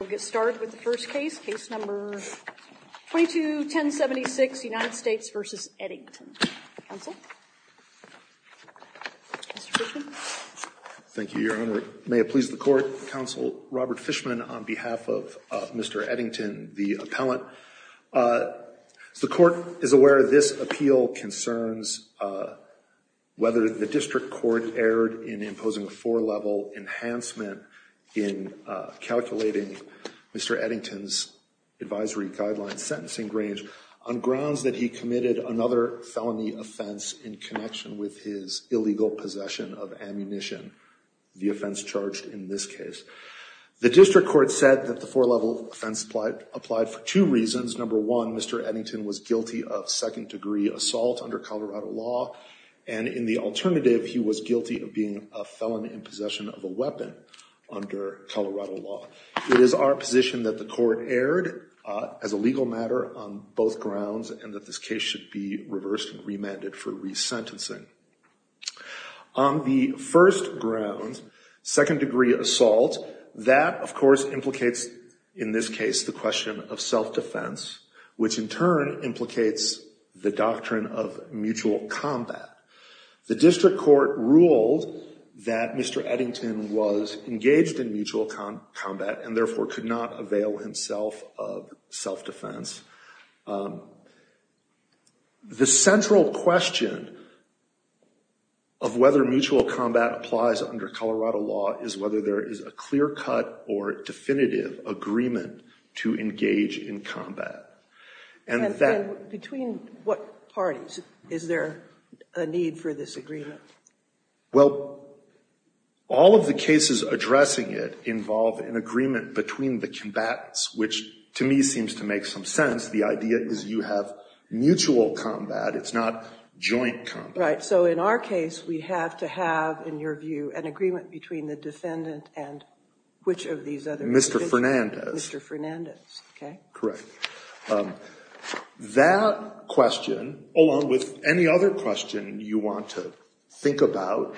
We'll get started with the first case, case number 22-1076, United States v. Eddington. Counsel? Mr. Fishman? Thank you, Your Honor. May it please the Court, Counsel Robert Fishman on behalf of Mr. Eddington, the appellant. The Court is aware this appeal concerns whether the District Court erred in imposing a four-level enhancement in calculating Mr. Eddington's advisory guidelines sentencing grange on grounds that he committed another felony offense in connection with his illegal possession of ammunition, the offense charged in this case. The District Court said that the four-level offense applied for two reasons. Number one, Mr. Eddington was guilty of second-degree assault under Colorado law, and in the alternative, he was guilty of being a felon in possession of a weapon under Colorado law. It is our position that the Court erred as a legal matter on both grounds and that this case should be reversed and remanded for resentencing. On the first ground, second-degree assault, that, of course, implicates in this case the question of self-defense, which in turn implicates the doctrine of mutual combat. The District Court ruled that Mr. Eddington was engaged in mutual combat and therefore could not avail himself of self-defense. The central question of whether mutual combat applies under Colorado law is whether there is a clear-cut or definitive agreement to engage in combat. And that Between what parties is there a need for this agreement? Well, all of the cases addressing it involve an agreement between the combatants, which to me seems to make some sense. The idea is you have mutual combat. It's not joint combat. Right. So in our case, we have to have, in your view, an agreement between the defendant and which of these other individuals? Mr. Fernandez. Mr. Fernandez, okay. Correct. That question, along with any other question you want to think about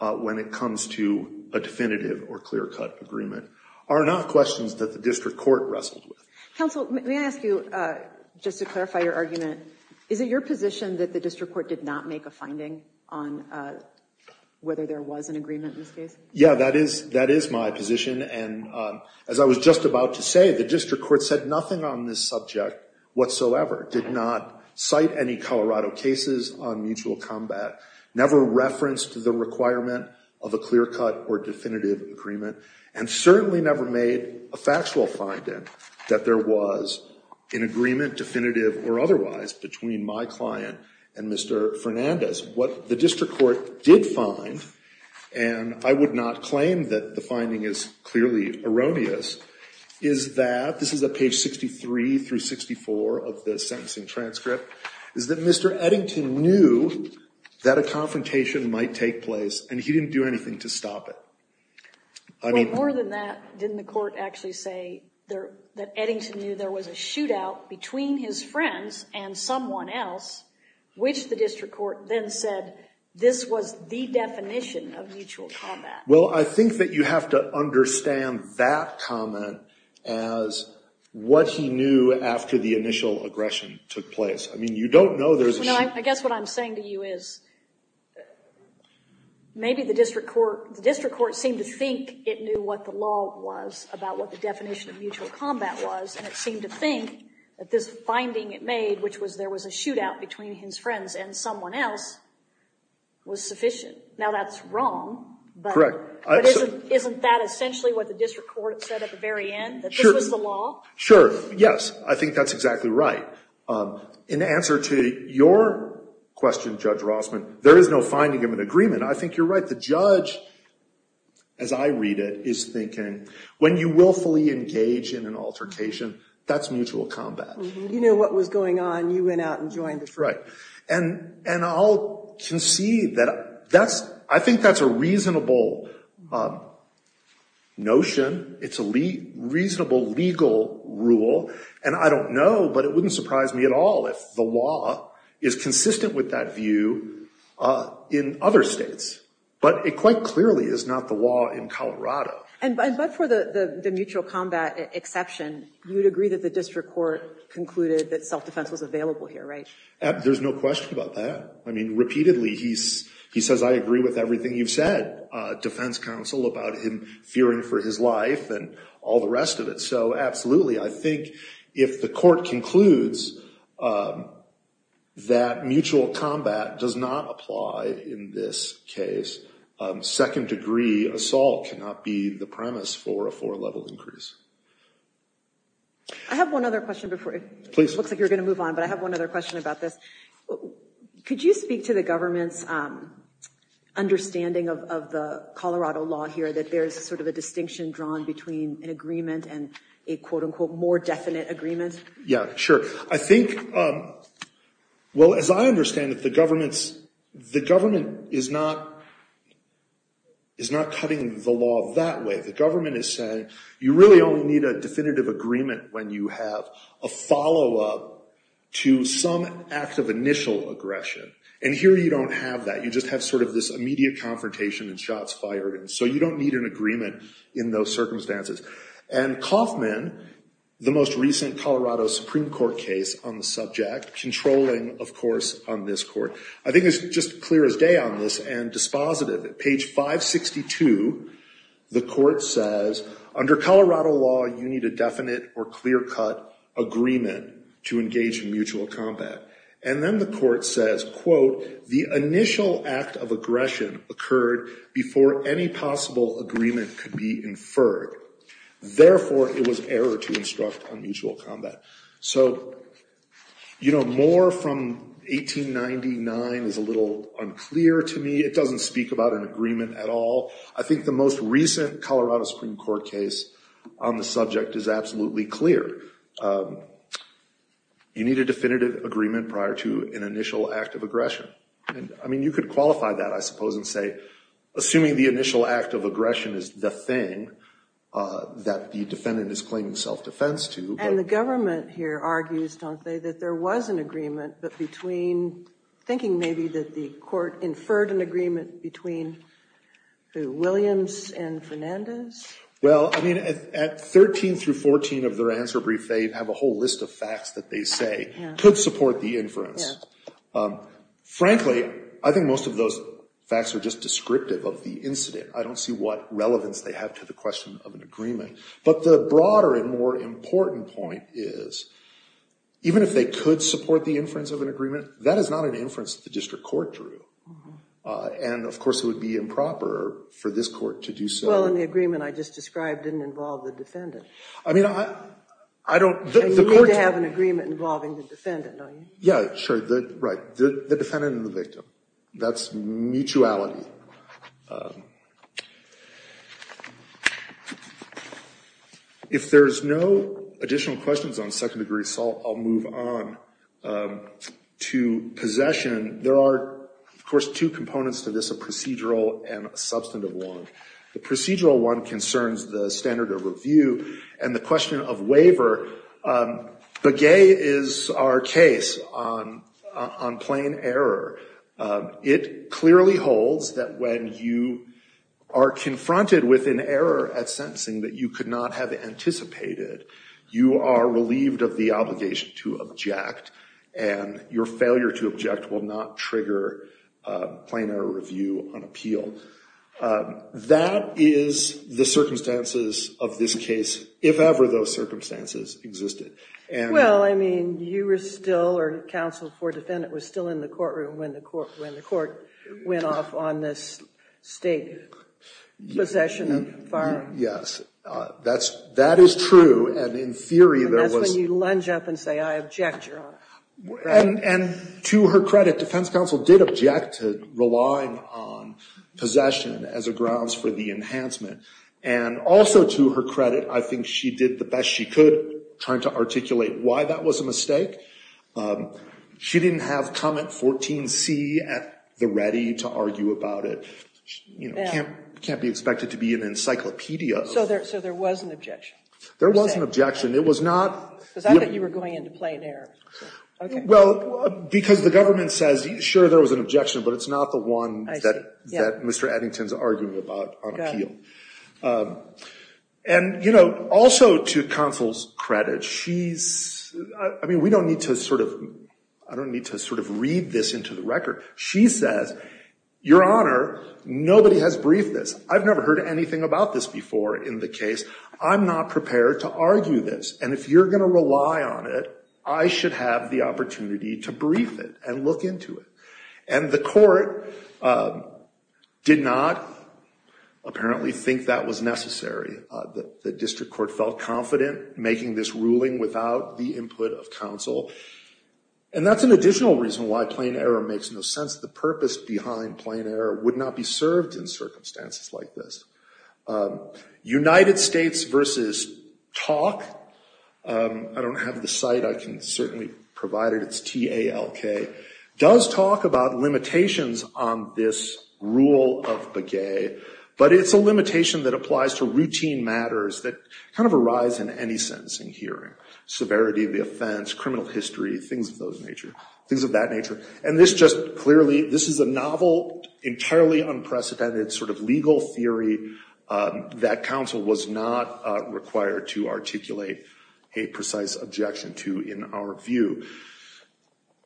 when it comes to a definitive or clear-cut agreement, are not questions that the District Court wrestled with. Counsel, may I ask you, just to clarify your argument, is it your position that the District Court did not make a finding on whether there was an agreement in this case? Yeah, that is my position. And as I was just about to say, the District Court said nothing on this subject whatsoever, did not cite any Colorado cases on mutual combat, never referenced the requirement of a clear-cut or definitive agreement, and certainly never made a factual finding that there was an agreement, definitive or otherwise, between my client and Mr. Fernandez. What the District Court did find, and I would not claim that the finding is clearly erroneous, is that, this is at page 63 through 64 of the sentencing transcript, is that Mr. Eddington knew that a confrontation might take place and he didn't do anything to stop it. Well, more than that, didn't the court actually say that Eddington knew there was a Well, I think that you have to understand that comment as what he knew after the initial aggression took place. I mean, you don't know there's a... No, I guess what I'm saying to you is, maybe the District Court seemed to think it knew what the law was about what the definition of mutual combat was, and it seemed to think that this finding it made, which was there was a shootout between his friends and someone else, was sufficient. Now, that's wrong, but isn't that essentially what the District Court said at the very end, that this was the law? Sure, yes. I think that's exactly right. In answer to your question, Judge Rossman, there is no finding of an agreement. I think you're right. The judge, as I read it, is thinking, when you willfully engage in an altercation, that's You knew what was going on. You went out and joined the fight. And I'll concede that I think that's a reasonable notion. It's a reasonable legal rule. And I don't know, but it wouldn't surprise me at all if the law is consistent with that view in other states. But it quite clearly is not the law in Colorado. And but for the mutual combat exception, you would agree that the District Court concluded that self-defense was available here, right? There's no question about that. I mean, repeatedly he says, I agree with everything you've said, defense counsel, about him fearing for his life and all the rest of it. So absolutely. I think if the court concludes that mutual combat does not apply in this case, second-degree assault cannot be the premise for a four-level increase. I have one other question before. Please. It looks like you're going to move on, but I have one other question about this. Could you speak to the government's understanding of the Colorado law here, that there's sort of a distinction drawn between an agreement and a, quote-unquote, more definite agreement? Yeah, sure. I think, well, as I understand it, the government's, the government is not, is not cutting the law that way. The government is saying, you really only need a definitive agreement when you have a follow-up to some act of initial aggression, and here you don't have that. You just have sort of this immediate confrontation and shots fired, and so you don't need an agreement in those circumstances. And Kaufman, the most recent Colorado Supreme Court case on the subject, controlling, of course, on this court, I think is just clear as day on this and dispositive. At page 562, the court says, under Colorado law, you need a definite or clear-cut agreement to engage in mutual combat. And then the court says, quote, the initial act of aggression occurred before any possible agreement could be inferred. Therefore, it was error to instruct on mutual combat. So, you know, more from 1899 is a little unclear to me. It doesn't speak about an agreement at all. I think the most recent Colorado Supreme Court case on the subject is absolutely clear. You need a definitive agreement prior to an initial act of aggression, and, I mean, you could qualify that, I suppose, and say, assuming the initial act of aggression is the thing that the defendant is claiming self-defense to. And the government here argues, don't they, that there was an agreement, but between thinking maybe that the court inferred an agreement between, who, Williams and Fernandez? Well, I mean, at 13 through 14 of their answer brief, they have a whole list of facts that they say could support the inference. Frankly, I think most of those facts are just descriptive of the incident. I don't see what relevance they have to the question of an agreement. But the broader and more important point is, even if they could support the inference of an agreement, that is not an inference that the district court drew. And of course, it would be improper for this court to do so. Well, and the agreement I just described didn't involve the defendant. I mean, I don't, the court- And you need to have an agreement involving the defendant, don't you? Yeah, sure. Right. The defendant and the victim, that's mutuality. If there's no additional questions on second degree assault, I'll move on to possession. There are, of course, two components to this, a procedural and a substantive one. The procedural one concerns the standard of review and the question of waiver. Begay is our case on plain error. It clearly holds that when you are confronted with an error at sentencing that you could not have anticipated, you are relieved of the obligation to object, and your failure to object will not trigger plain error review on appeal. That is the circumstances of this case, if ever those circumstances existed. And- Well, I mean, you were still, or counsel before defendant was still in the courtroom when the court went off on this state possession of firearms. Yes. That is true. And in theory, there was- And that's when you lunge up and say, I object your honor. Right. And to her credit, defense counsel did object to relying on possession as a grounds for the enhancement. And also to her credit, I think she did the best she could trying to articulate why that was a mistake. She didn't have comment 14C at the ready to argue about it. You know, it can't be expected to be an encyclopedia of- So there was an objection? There was an objection. It was not- Because I thought you were going into plain error. Okay. Well, because the government says, sure, there was an objection, but it's not the one that Mr. Eddington is arguing about on appeal. And, you know, also to counsel's credit, she's- I mean, we don't need to sort of- I don't need to sort of read this into the record. She says, your honor, nobody has briefed this. I've never heard anything about this before in the case. I'm not prepared to argue this. And if you're going to rely on it, I should have the opportunity to brief it and look into it. And the court did not apparently think that was necessary. The district court felt confident making this ruling without the input of counsel. And that's an additional reason why plain error makes no sense. The purpose behind plain error would not be served in circumstances like this. United States versus talk- I don't have the site. I can certainly provide it. It's TALK. Does talk about limitations on this rule of beguet, but it's a limitation that applies to routine matters that kind of arise in any sentencing hearing, severity of the offense, criminal history, things of that nature. And this just clearly- this is a novel, entirely unprecedented sort of legal theory that counsel was not required to articulate a precise objection to in our view.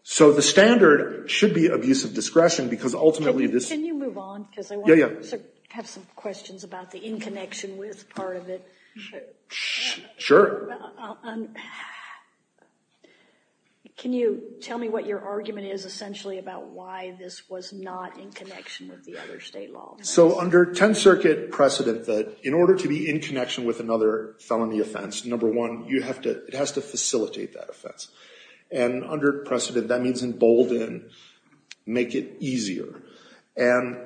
So the standard should be abuse of discretion because ultimately this- Can you move on? Yeah, yeah. I have some questions about the in connection with part of it. Sure. Can you tell me what your argument is essentially about why this was not in connection with the other state law? So under 10th Circuit precedent that in order to be in connection with another felony offense, number one, you have to- it has to facilitate that offense. And under precedent, that means embolden, make it easier. And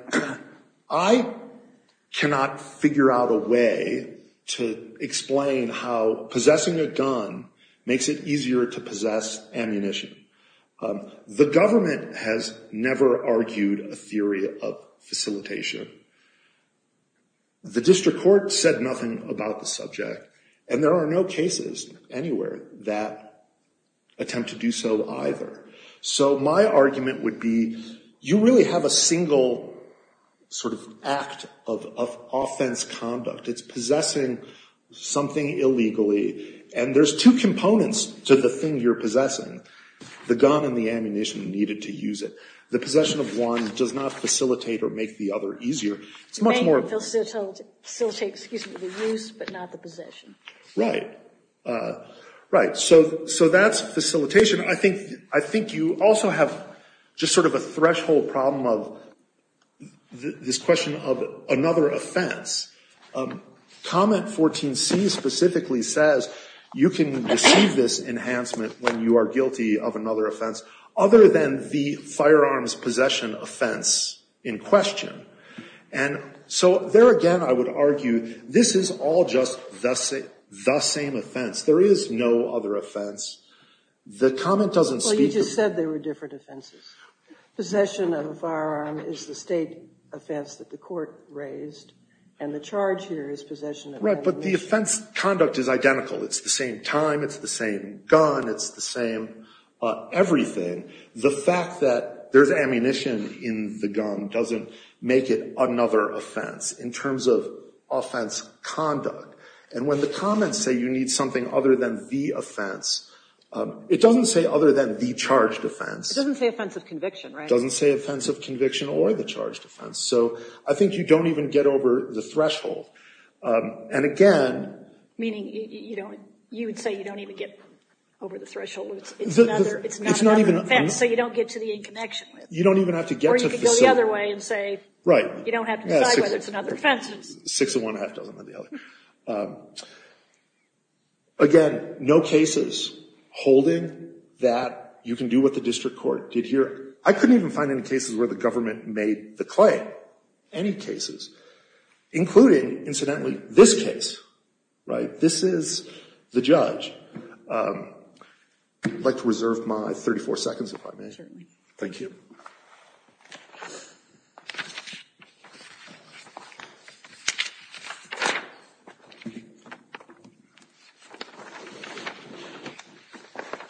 I cannot figure out a way to explain how possessing a gun makes it easier to possess ammunition. The government has never argued a theory of facilitation. The district court said nothing about the subject. And there are no cases anywhere that attempt to do so either. So my argument would be you really have a single sort of act of offense conduct. It's possessing something illegally. And there's two components to the thing you're possessing. The gun and the ammunition needed to use it. The possession of one does not facilitate or make the other easier. It's much more- Facilitate, excuse me, the use but not the possession. Right. Right. So that's facilitation. I think you also have just sort of a threshold problem of this question of another offense. Comment 14C specifically says you can receive this enhancement when you are guilty of another offense other than the firearms possession offense in question. And so there again I would argue this is all just the same offense. There is no other offense. The comment doesn't speak- Well, you just said there were different offenses. Possession of a firearm is the state offense that the court raised. And the charge here is possession of- Right. But the offense conduct is identical. It's the same time. It's the same gun. It's the same everything. The fact that there's ammunition in the gun doesn't make it another offense in terms of offense conduct. And when the comments say you need something other than the offense, it doesn't say other than the charged offense. It doesn't say offense of conviction, right? It doesn't say offense of conviction or the charged offense. And again- Meaning you would say you don't even get over the threshold. It's not another offense. So you don't get to the in connection with it. You don't even have to get to the facility. Or you can go the other way and say you don't have to decide whether it's another offense. Six of one doesn't have to be the other. Again, no cases holding that you can do what the district court did here. I couldn't even find any cases where the government made the claim. I couldn't find any cases, including, incidentally, this case, right? This is the judge. I'd like to reserve my 34 seconds if I may. Certainly. Thank you.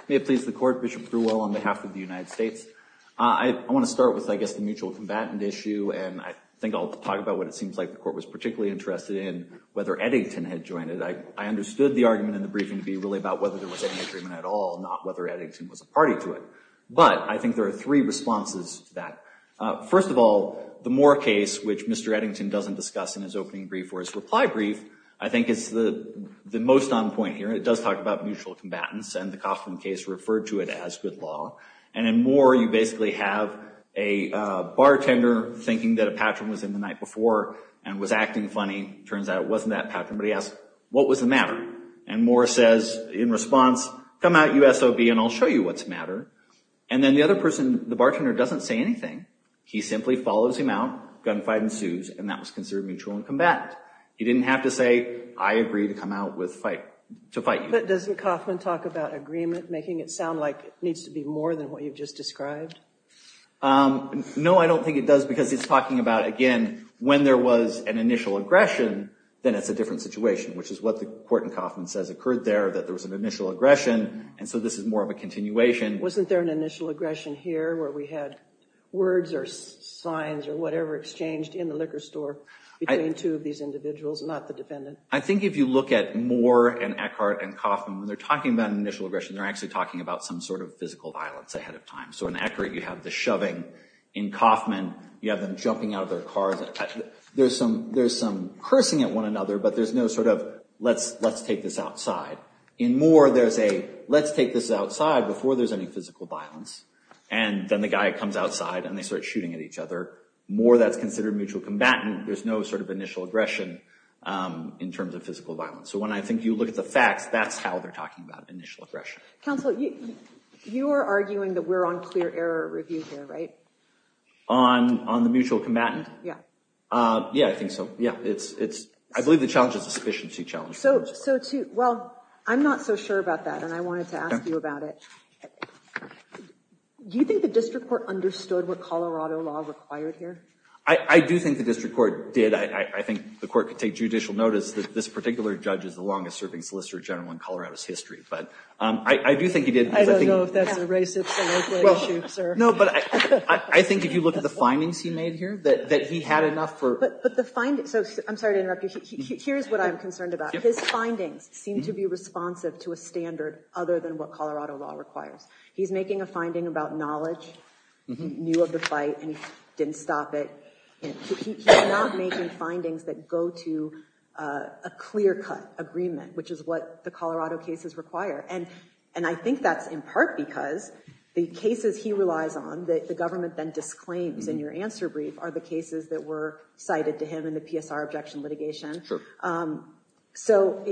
May it please the court. Bishop Prewell on behalf of the United States. I want to start with, I guess, the mutual combatant issue. And I think I'll talk about what it seems like the court was particularly interested in, whether Eddington had joined it. I understood the argument in the briefing to be really about whether there was any agreement at all, not whether Eddington was a party to it. But I think there are three responses to that. First of all, the Moore case, which Mr. Eddington doesn't discuss in his opening brief or his reply brief, I think is the most on point here. It does talk about mutual combatants. And the Coffman case referred to it as good law. And in Moore, you basically have a bartender thinking that a patron was in the night before and was acting funny. Turns out it wasn't that patron. But he asked, what was the matter? And Moore says, in response, come out, you SOB, and I'll show you what's the matter. And then the other person, the bartender, doesn't say anything. He simply follows him out. Gunfight ensues. And that was considered mutual and combatant. He didn't have to say, I agree to come out to fight you. But doesn't Coffman talk about agreement, making it sound like it needs to be more than what you've just described? No, I don't think it does. Because he's talking about, again, when there was an initial aggression, then it's a different situation, which is what the court in Coffman says occurred there, that there was an initial aggression. And so this is more of a continuation. Wasn't there an initial aggression here where we had words or signs or whatever exchanged in the liquor store between two of these individuals, not the defendant? I think if you look at Moore and Eckhart and Coffman, when they're talking about an initial aggression, they're actually talking about some sort of physical violence ahead of time. So in Eckhart, you have the shoving. In Coffman, you have them jumping out of their cars. There's some cursing at one another, but there's no sort of, let's take this outside. In Moore, there's a, let's take this outside before there's any physical violence. And then the guy comes outside, and they start shooting at each other. Moore, that's considered mutual combatant. There's no sort of initial aggression in terms of physical violence. So when I think you look at the facts, that's how they're talking about initial aggression. Counsel, you are arguing that we're on clear error review here, right? On the mutual combatant? Yeah. Yeah, I think so. Yeah. I believe the challenge is a sufficiency challenge. Well, I'm not so sure about that, and I wanted to ask you about it. Do you think the district court understood what Colorado law required here? I do think the district court did. I think the court could take judicial notice that this particular judge is the longest-serving solicitor general in Colorado's history. But I do think he did. I don't know if that's a racist or local issue, sir. No, but I think if you look at the findings he made here, that he had enough for— But the findings—so I'm sorry to interrupt you. Here's what I'm concerned about. His findings seem to be responsive to a standard other than what Colorado law requires. He's making a finding about knowledge, knew of the fight, and didn't stop it. He's not making findings that go to a clear-cut agreement, which is what the Colorado cases require. And I think that's in part because the cases he relies on that the government then disclaims in your answer brief are the cases that were cited to him in the PSR objection litigation. Sure. So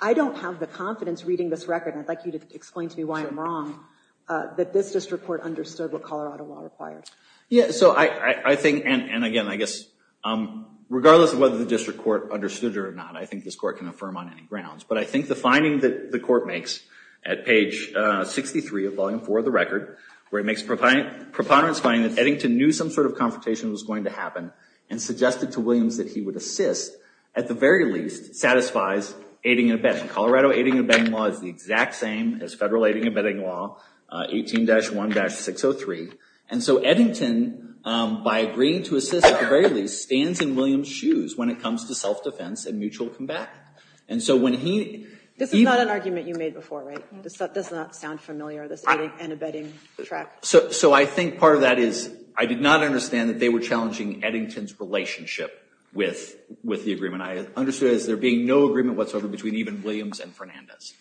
I don't have the confidence reading this record, and I'd like you to explain to me why I'm wrong, that this district court understood what Colorado law required. Yeah, so I think—and again, I guess regardless of whether the district court understood it or not, I think this court can affirm on any grounds. But I think the finding that the court makes at page 63 of Volume 4 of the record, where it makes a preponderance finding that Eddington knew some sort of confrontation was going to happen and suggested to Williams that he would assist, at the very least satisfies aiding and abetting. Colorado aiding and abetting law is the exact same as federal aiding and abetting law, 18-1-603. And so Eddington, by agreeing to assist at the very least, stands in Williams' shoes when it comes to self-defense and mutual combat. And so when he— This is not an argument you made before, right? This does not sound familiar, this aiding and abetting track. So I think part of that is I did not understand that they were challenging Eddington's relationship with the agreement. I understood it as there being no agreement whatsoever between even Williams and Fernandez.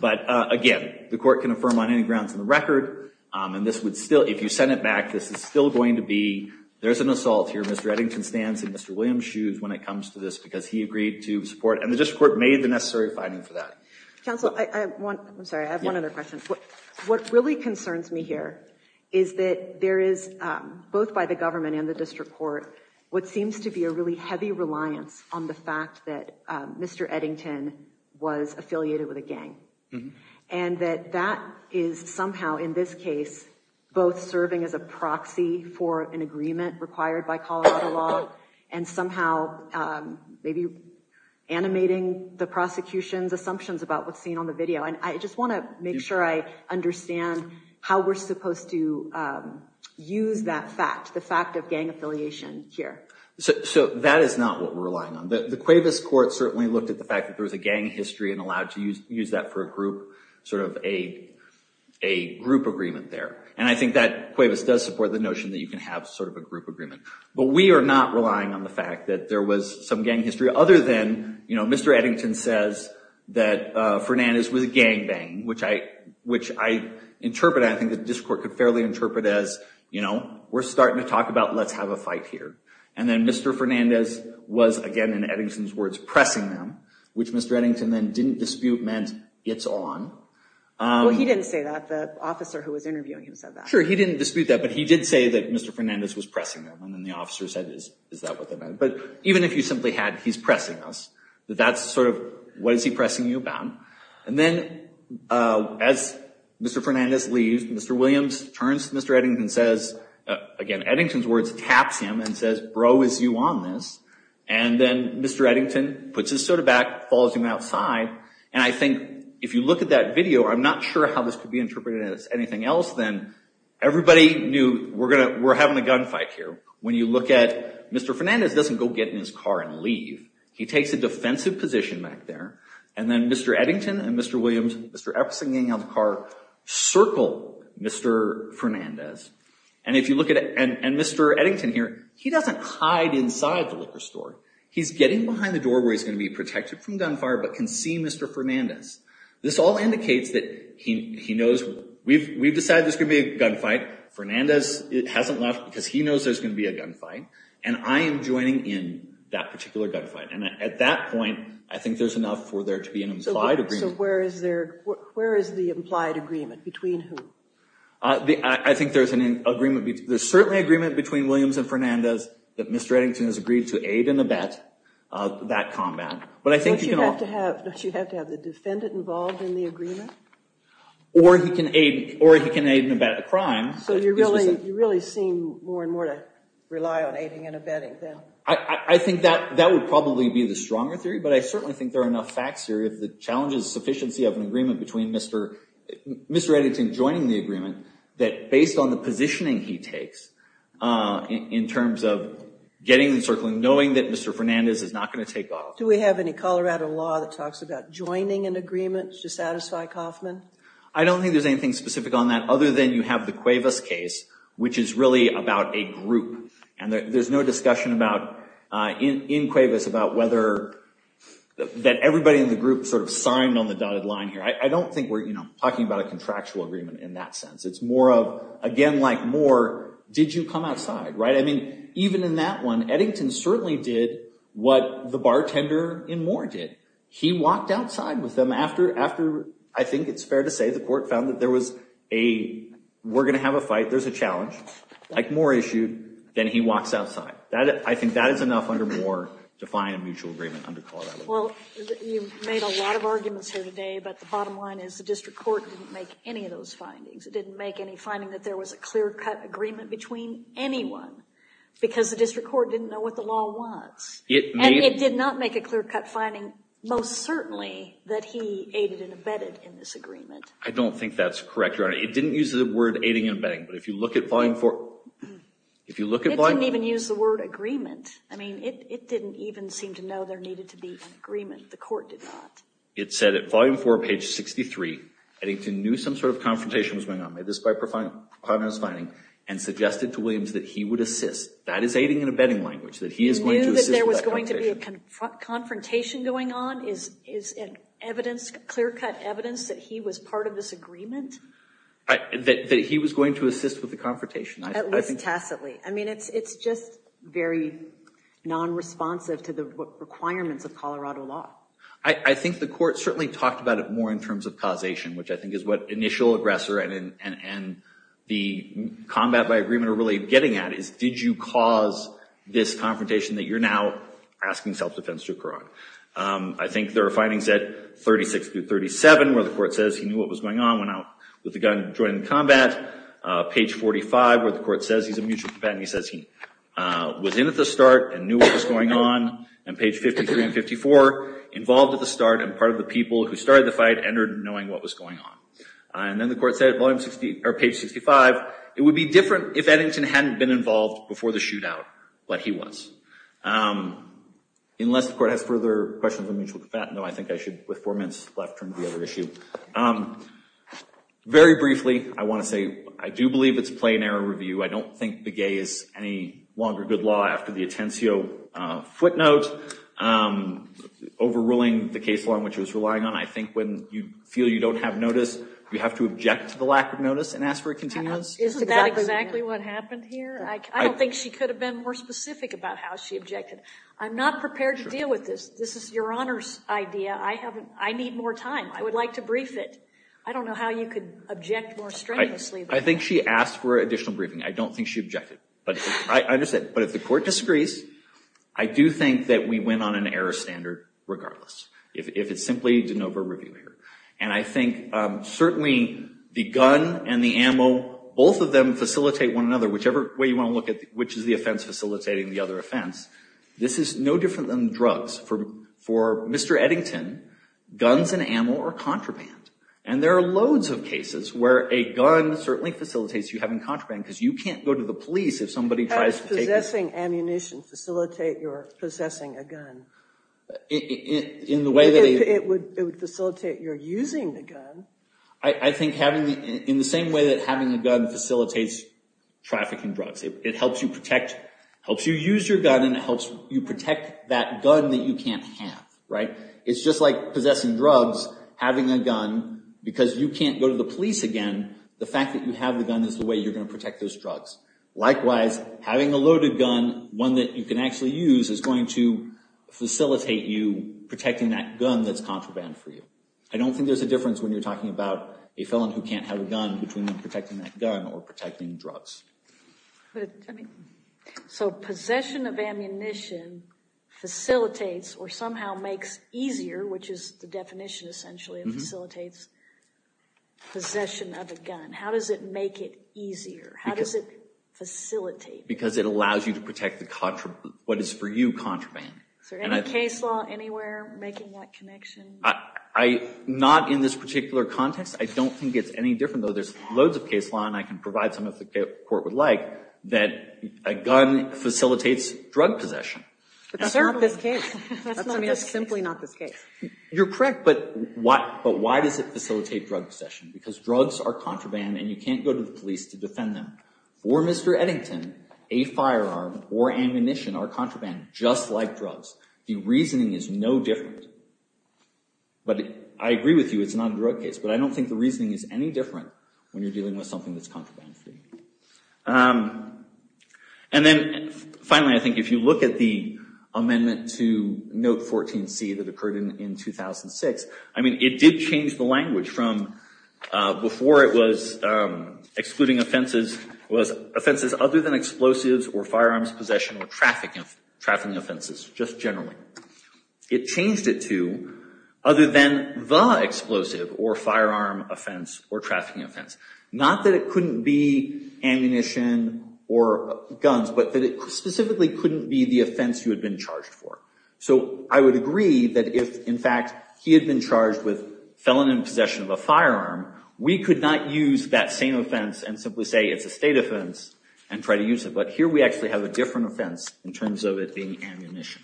But again, the court can affirm on any grounds in the record, and this would still—if you sent it back, this is still going to be, there's an assault here, Mr. Eddington stands in Mr. Williams' shoes when it comes to this because he agreed to support, and the district court made the necessary finding for that. Counsel, I want—I'm sorry, I have one other question. What really concerns me here is that there is, both by the government and the district court, what seems to be a really heavy reliance on the fact that Mr. Eddington was affiliated with a gang. And that that is somehow, in this case, both serving as a proxy for an agreement required by Colorado law, and somehow maybe animating the prosecution's assumptions about what's seen on the video. And I just want to make sure I understand how we're supposed to use that fact, the fact of gang affiliation here. So that is not what we're relying on. The Cuevas court certainly looked at the fact that there was a gang history and allowed to use that for a group, sort of a group agreement there. And I think that Cuevas does support the notion that you can have sort of a group agreement. But we are not relying on the fact that there was some gang history, other than, you know, Mr. Eddington says that Fernandez was gangbanging, which I interpret—I think the district court could fairly interpret as, you know, we're starting to talk about let's have a fight here. And then Mr. Fernandez was, again, in Eddington's words, pressing them, which Mr. Eddington then didn't dispute meant it's on. Well, he didn't say that. The officer who was interviewing him said that. Sure, he didn't dispute that, but he did say that Mr. Fernandez was pressing them. And then the officer said, is that what that meant? But even if you simply had he's pressing us, that that's sort of what is he pressing you about? And then as Mr. Fernandez leaves, Mr. Williams turns to Mr. Eddington and says, again, Eddington's words, taps him and says, bro, is you on this? And then Mr. Eddington puts his sword back, follows him outside. And I think if you look at that video, I'm not sure how this could be interpreted as anything else. Then everybody knew we're having a gunfight here. When you look at Mr. Fernandez doesn't go get in his car and leave. He takes a defensive position back there. And then Mr. Eddington and Mr. Williams, Mr. Epperson getting out of the car, circle Mr. Fernandez. And if you look at it, and Mr. Eddington here, he doesn't hide inside the liquor store. He's getting behind the door where he's going to be protected from gunfire but can see Mr. Fernandez. This all indicates that he knows we've decided there's going to be a gunfight. Fernandez hasn't left because he knows there's going to be a gunfight. And I am joining in that particular gunfight. And at that point, I think there's enough for there to be an implied agreement. So where is the implied agreement? Between who? I think there's an agreement. There's certainly agreement between Williams and Fernandez that Mr. Eddington has agreed to aid and abet that combat. Don't you have to have the defendant involved in the agreement? Or he can aid and abet a crime. So you really seem more and more to rely on aiding and abetting then? I think that would probably be the stronger theory. But I certainly think there are enough facts here. The challenge is the sufficiency of an agreement between Mr. Eddington joining the agreement that, based on the positioning he takes in terms of getting the circling, knowing that Mr. Fernandez is not going to take off. Do we have any Colorado law that talks about joining an agreement to satisfy Kaufman? I don't think there's anything specific on that other than you have the Cuevas case, which is really about a group. And there's no discussion in Cuevas about whether that everybody in the group sort of signed on the dotted line here. I don't think we're talking about a contractual agreement in that sense. It's more of, again, like Moore, did you come outside? I mean, even in that one, Eddington certainly did what the bartender in Moore did. He walked outside with them after, I think it's fair to say, the court found that there was a, we're going to have a fight, there's a challenge, like Moore issued, then he walks outside. I think that is enough under Moore to find a mutual agreement under Colorado law. Well, you've made a lot of arguments here today, but the bottom line is the district court didn't make any of those findings. It didn't make any finding that there was a clear-cut agreement between anyone, because the district court didn't know what the law was. And it did not make a clear-cut finding, most certainly, that he aided and abetted in this agreement. I don't think that's correct, Your Honor. It didn't use the word aiding and abetting, but if you look at Volume 4. It didn't even use the word agreement. I mean, it didn't even seem to know there needed to be an agreement. The court did not. It said at Volume 4, page 63, Eddington knew some sort of confrontation was going on, made this by profoundness finding, and suggested to Williams that he would assist. That is aiding and abetting language, that he is going to assist with that confrontation. He knew that there was going to be a confrontation going on? Is it evidence, clear-cut evidence, that he was part of this agreement? That he was going to assist with the confrontation. At least tacitly. I mean, it's just very non-responsive to the requirements of Colorado law. I think the court certainly talked about it more in terms of causation, which I think is what initial aggressor and the combat by agreement are really getting at, is did you cause this confrontation that you're now asking self-defense to occur on? I think there are findings at 36 through 37 where the court says he knew what was going on, went out with a gun, joined in combat. Page 45 where the court says he's a mutual companion, he says he was in at the start and knew what was going on. And page 53 and 54, involved at the start and part of the people who started the fight entered knowing what was going on. And then the court said at page 65, it would be different if Eddington hadn't been involved before the shootout, but he was. Unless the court has further questions on mutual combat, no, I think I should, with four minutes left, turn to the other issue. Very briefly, I want to say I do believe it's plain error review. I don't think Begay is any longer good law after the Atencio footnote, overruling the case law in which it was relying on. I think when you feel you don't have notice, you have to object to the lack of notice and ask for a continuance. Isn't that exactly what happened here? I don't think she could have been more specific about how she objected. I'm not prepared to deal with this. This is Your Honor's idea. I need more time. I would like to brief it. I don't know how you could object more strenuously. I think she asked for additional briefing. I don't think she objected. I understand. But if the court disagrees, I do think that we went on an error standard regardless, if it's simply de novo review error. And I think certainly the gun and the ammo, both of them facilitate one another, whichever way you want to look at which is the offense facilitating the other offense. This is no different than drugs. For Mr. Eddington, guns and ammo are contraband. And there are loads of cases where a gun certainly facilitates you having contraband because you can't go to the police if somebody tries to take it. How does possessing ammunition facilitate your possessing a gun? It would facilitate your using the gun. I think in the same way that having a gun facilitates trafficking drugs. It helps you use your gun and it helps you protect that gun that you can't have. It's just like possessing drugs, having a gun, because you can't go to the police again, the fact that you have the gun is the way you're going to protect those drugs. Likewise, having a loaded gun, one that you can actually use, is going to facilitate you protecting that gun that's contraband for you. I don't think there's a difference when you're talking about a felon who can't have a gun between protecting that gun or protecting drugs. So possession of ammunition facilitates or somehow makes easier, which is the definition essentially, it facilitates possession of a gun. How does it make it easier? How does it facilitate? Because it allows you to protect what is for you contraband. Is there any case law anywhere making that connection? Not in this particular context. I don't think it's any different, even though there's loads of case law and I can provide some if the court would like, that a gun facilitates drug possession. That's not this case. That's simply not this case. You're correct, but why does it facilitate drug possession? Because drugs are contraband and you can't go to the police to defend them. For Mr. Eddington, a firearm or ammunition are contraband, just like drugs. The reasoning is no different. But I agree with you, it's not a direct case, but I don't think the reasoning is any different when you're dealing with something that's contraband-free. And then finally, I think if you look at the amendment to Note 14c that occurred in 2006, I mean, it did change the language from before it was excluding offenses, was offenses other than explosives or firearms possession or trafficking offenses, just generally. It changed it to other than the explosive or firearm offense or trafficking offense. Not that it couldn't be ammunition or guns, but that it specifically couldn't be the offense you had been charged for. So I would agree that if, in fact, he had been charged with felon in possession of a firearm, we could not use that same offense and simply say it's a state offense and try to use it. But here we actually have a different offense in terms of it being ammunition.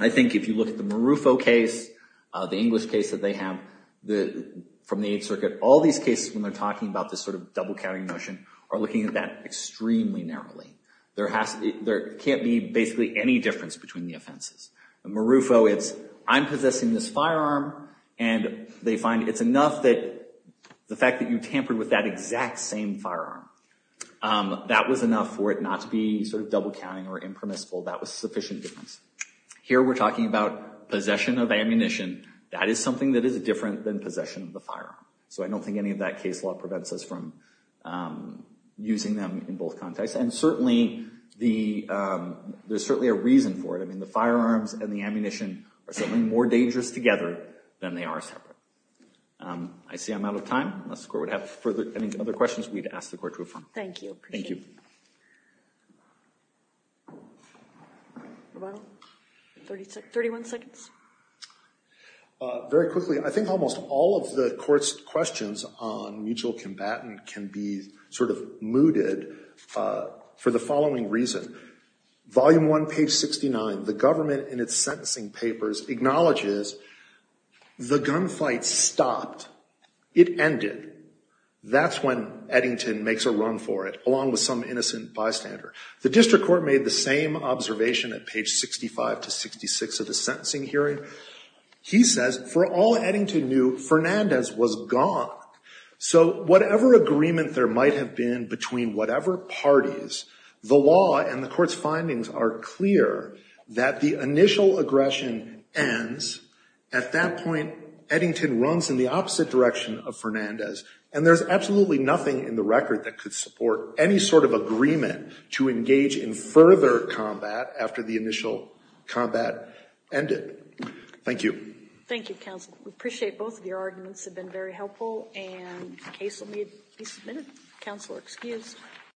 I think if you look at the Marufo case, the English case that they have from the Eighth Circuit, all these cases when they're talking about this sort of double-carrying notion are looking at that extremely narrowly. There can't be basically any difference between the offenses. In Marufo, it's I'm possessing this firearm, and they find it's enough that the fact that you tampered with that exact same firearm, that was enough for it not to be sort of double-carrying or impermissible. That was sufficient difference. Here we're talking about possession of ammunition. That is something that is different than possession of the firearm. So I don't think any of that case law prevents us from using them in both contexts. And certainly, there's certainly a reason for it. I mean, the firearms and the ammunition are certainly more dangerous together than they are separate. I see I'm out of time. Unless the Court would have any other questions, we'd ask the Court to adjourn. Thank you. Appreciate it. Thank you. Very quickly, I think almost all of the Court's questions on mutual combatant can be sort of mooted for the following reason. Volume 1, page 69, the government in its sentencing papers acknowledges the gunfight stopped. It ended. That's when Eddington makes a run for it, along with some innocent bystander. The district court made the same observation at page 65 to 66 of the sentencing hearing. He says, for all Eddington knew, Fernandez was gone. So whatever agreement there might have been between whatever parties, the law and the Court's findings are clear that the initial aggression ends. At that point, Eddington runs in the opposite direction of Fernandez. And there's absolutely nothing in the record that could support any sort of agreement to engage in further combat after the initial combat ended. Thank you. Thank you, counsel. We appreciate both of your arguments have been very helpful, and the case will be submitted. Counsel are excused.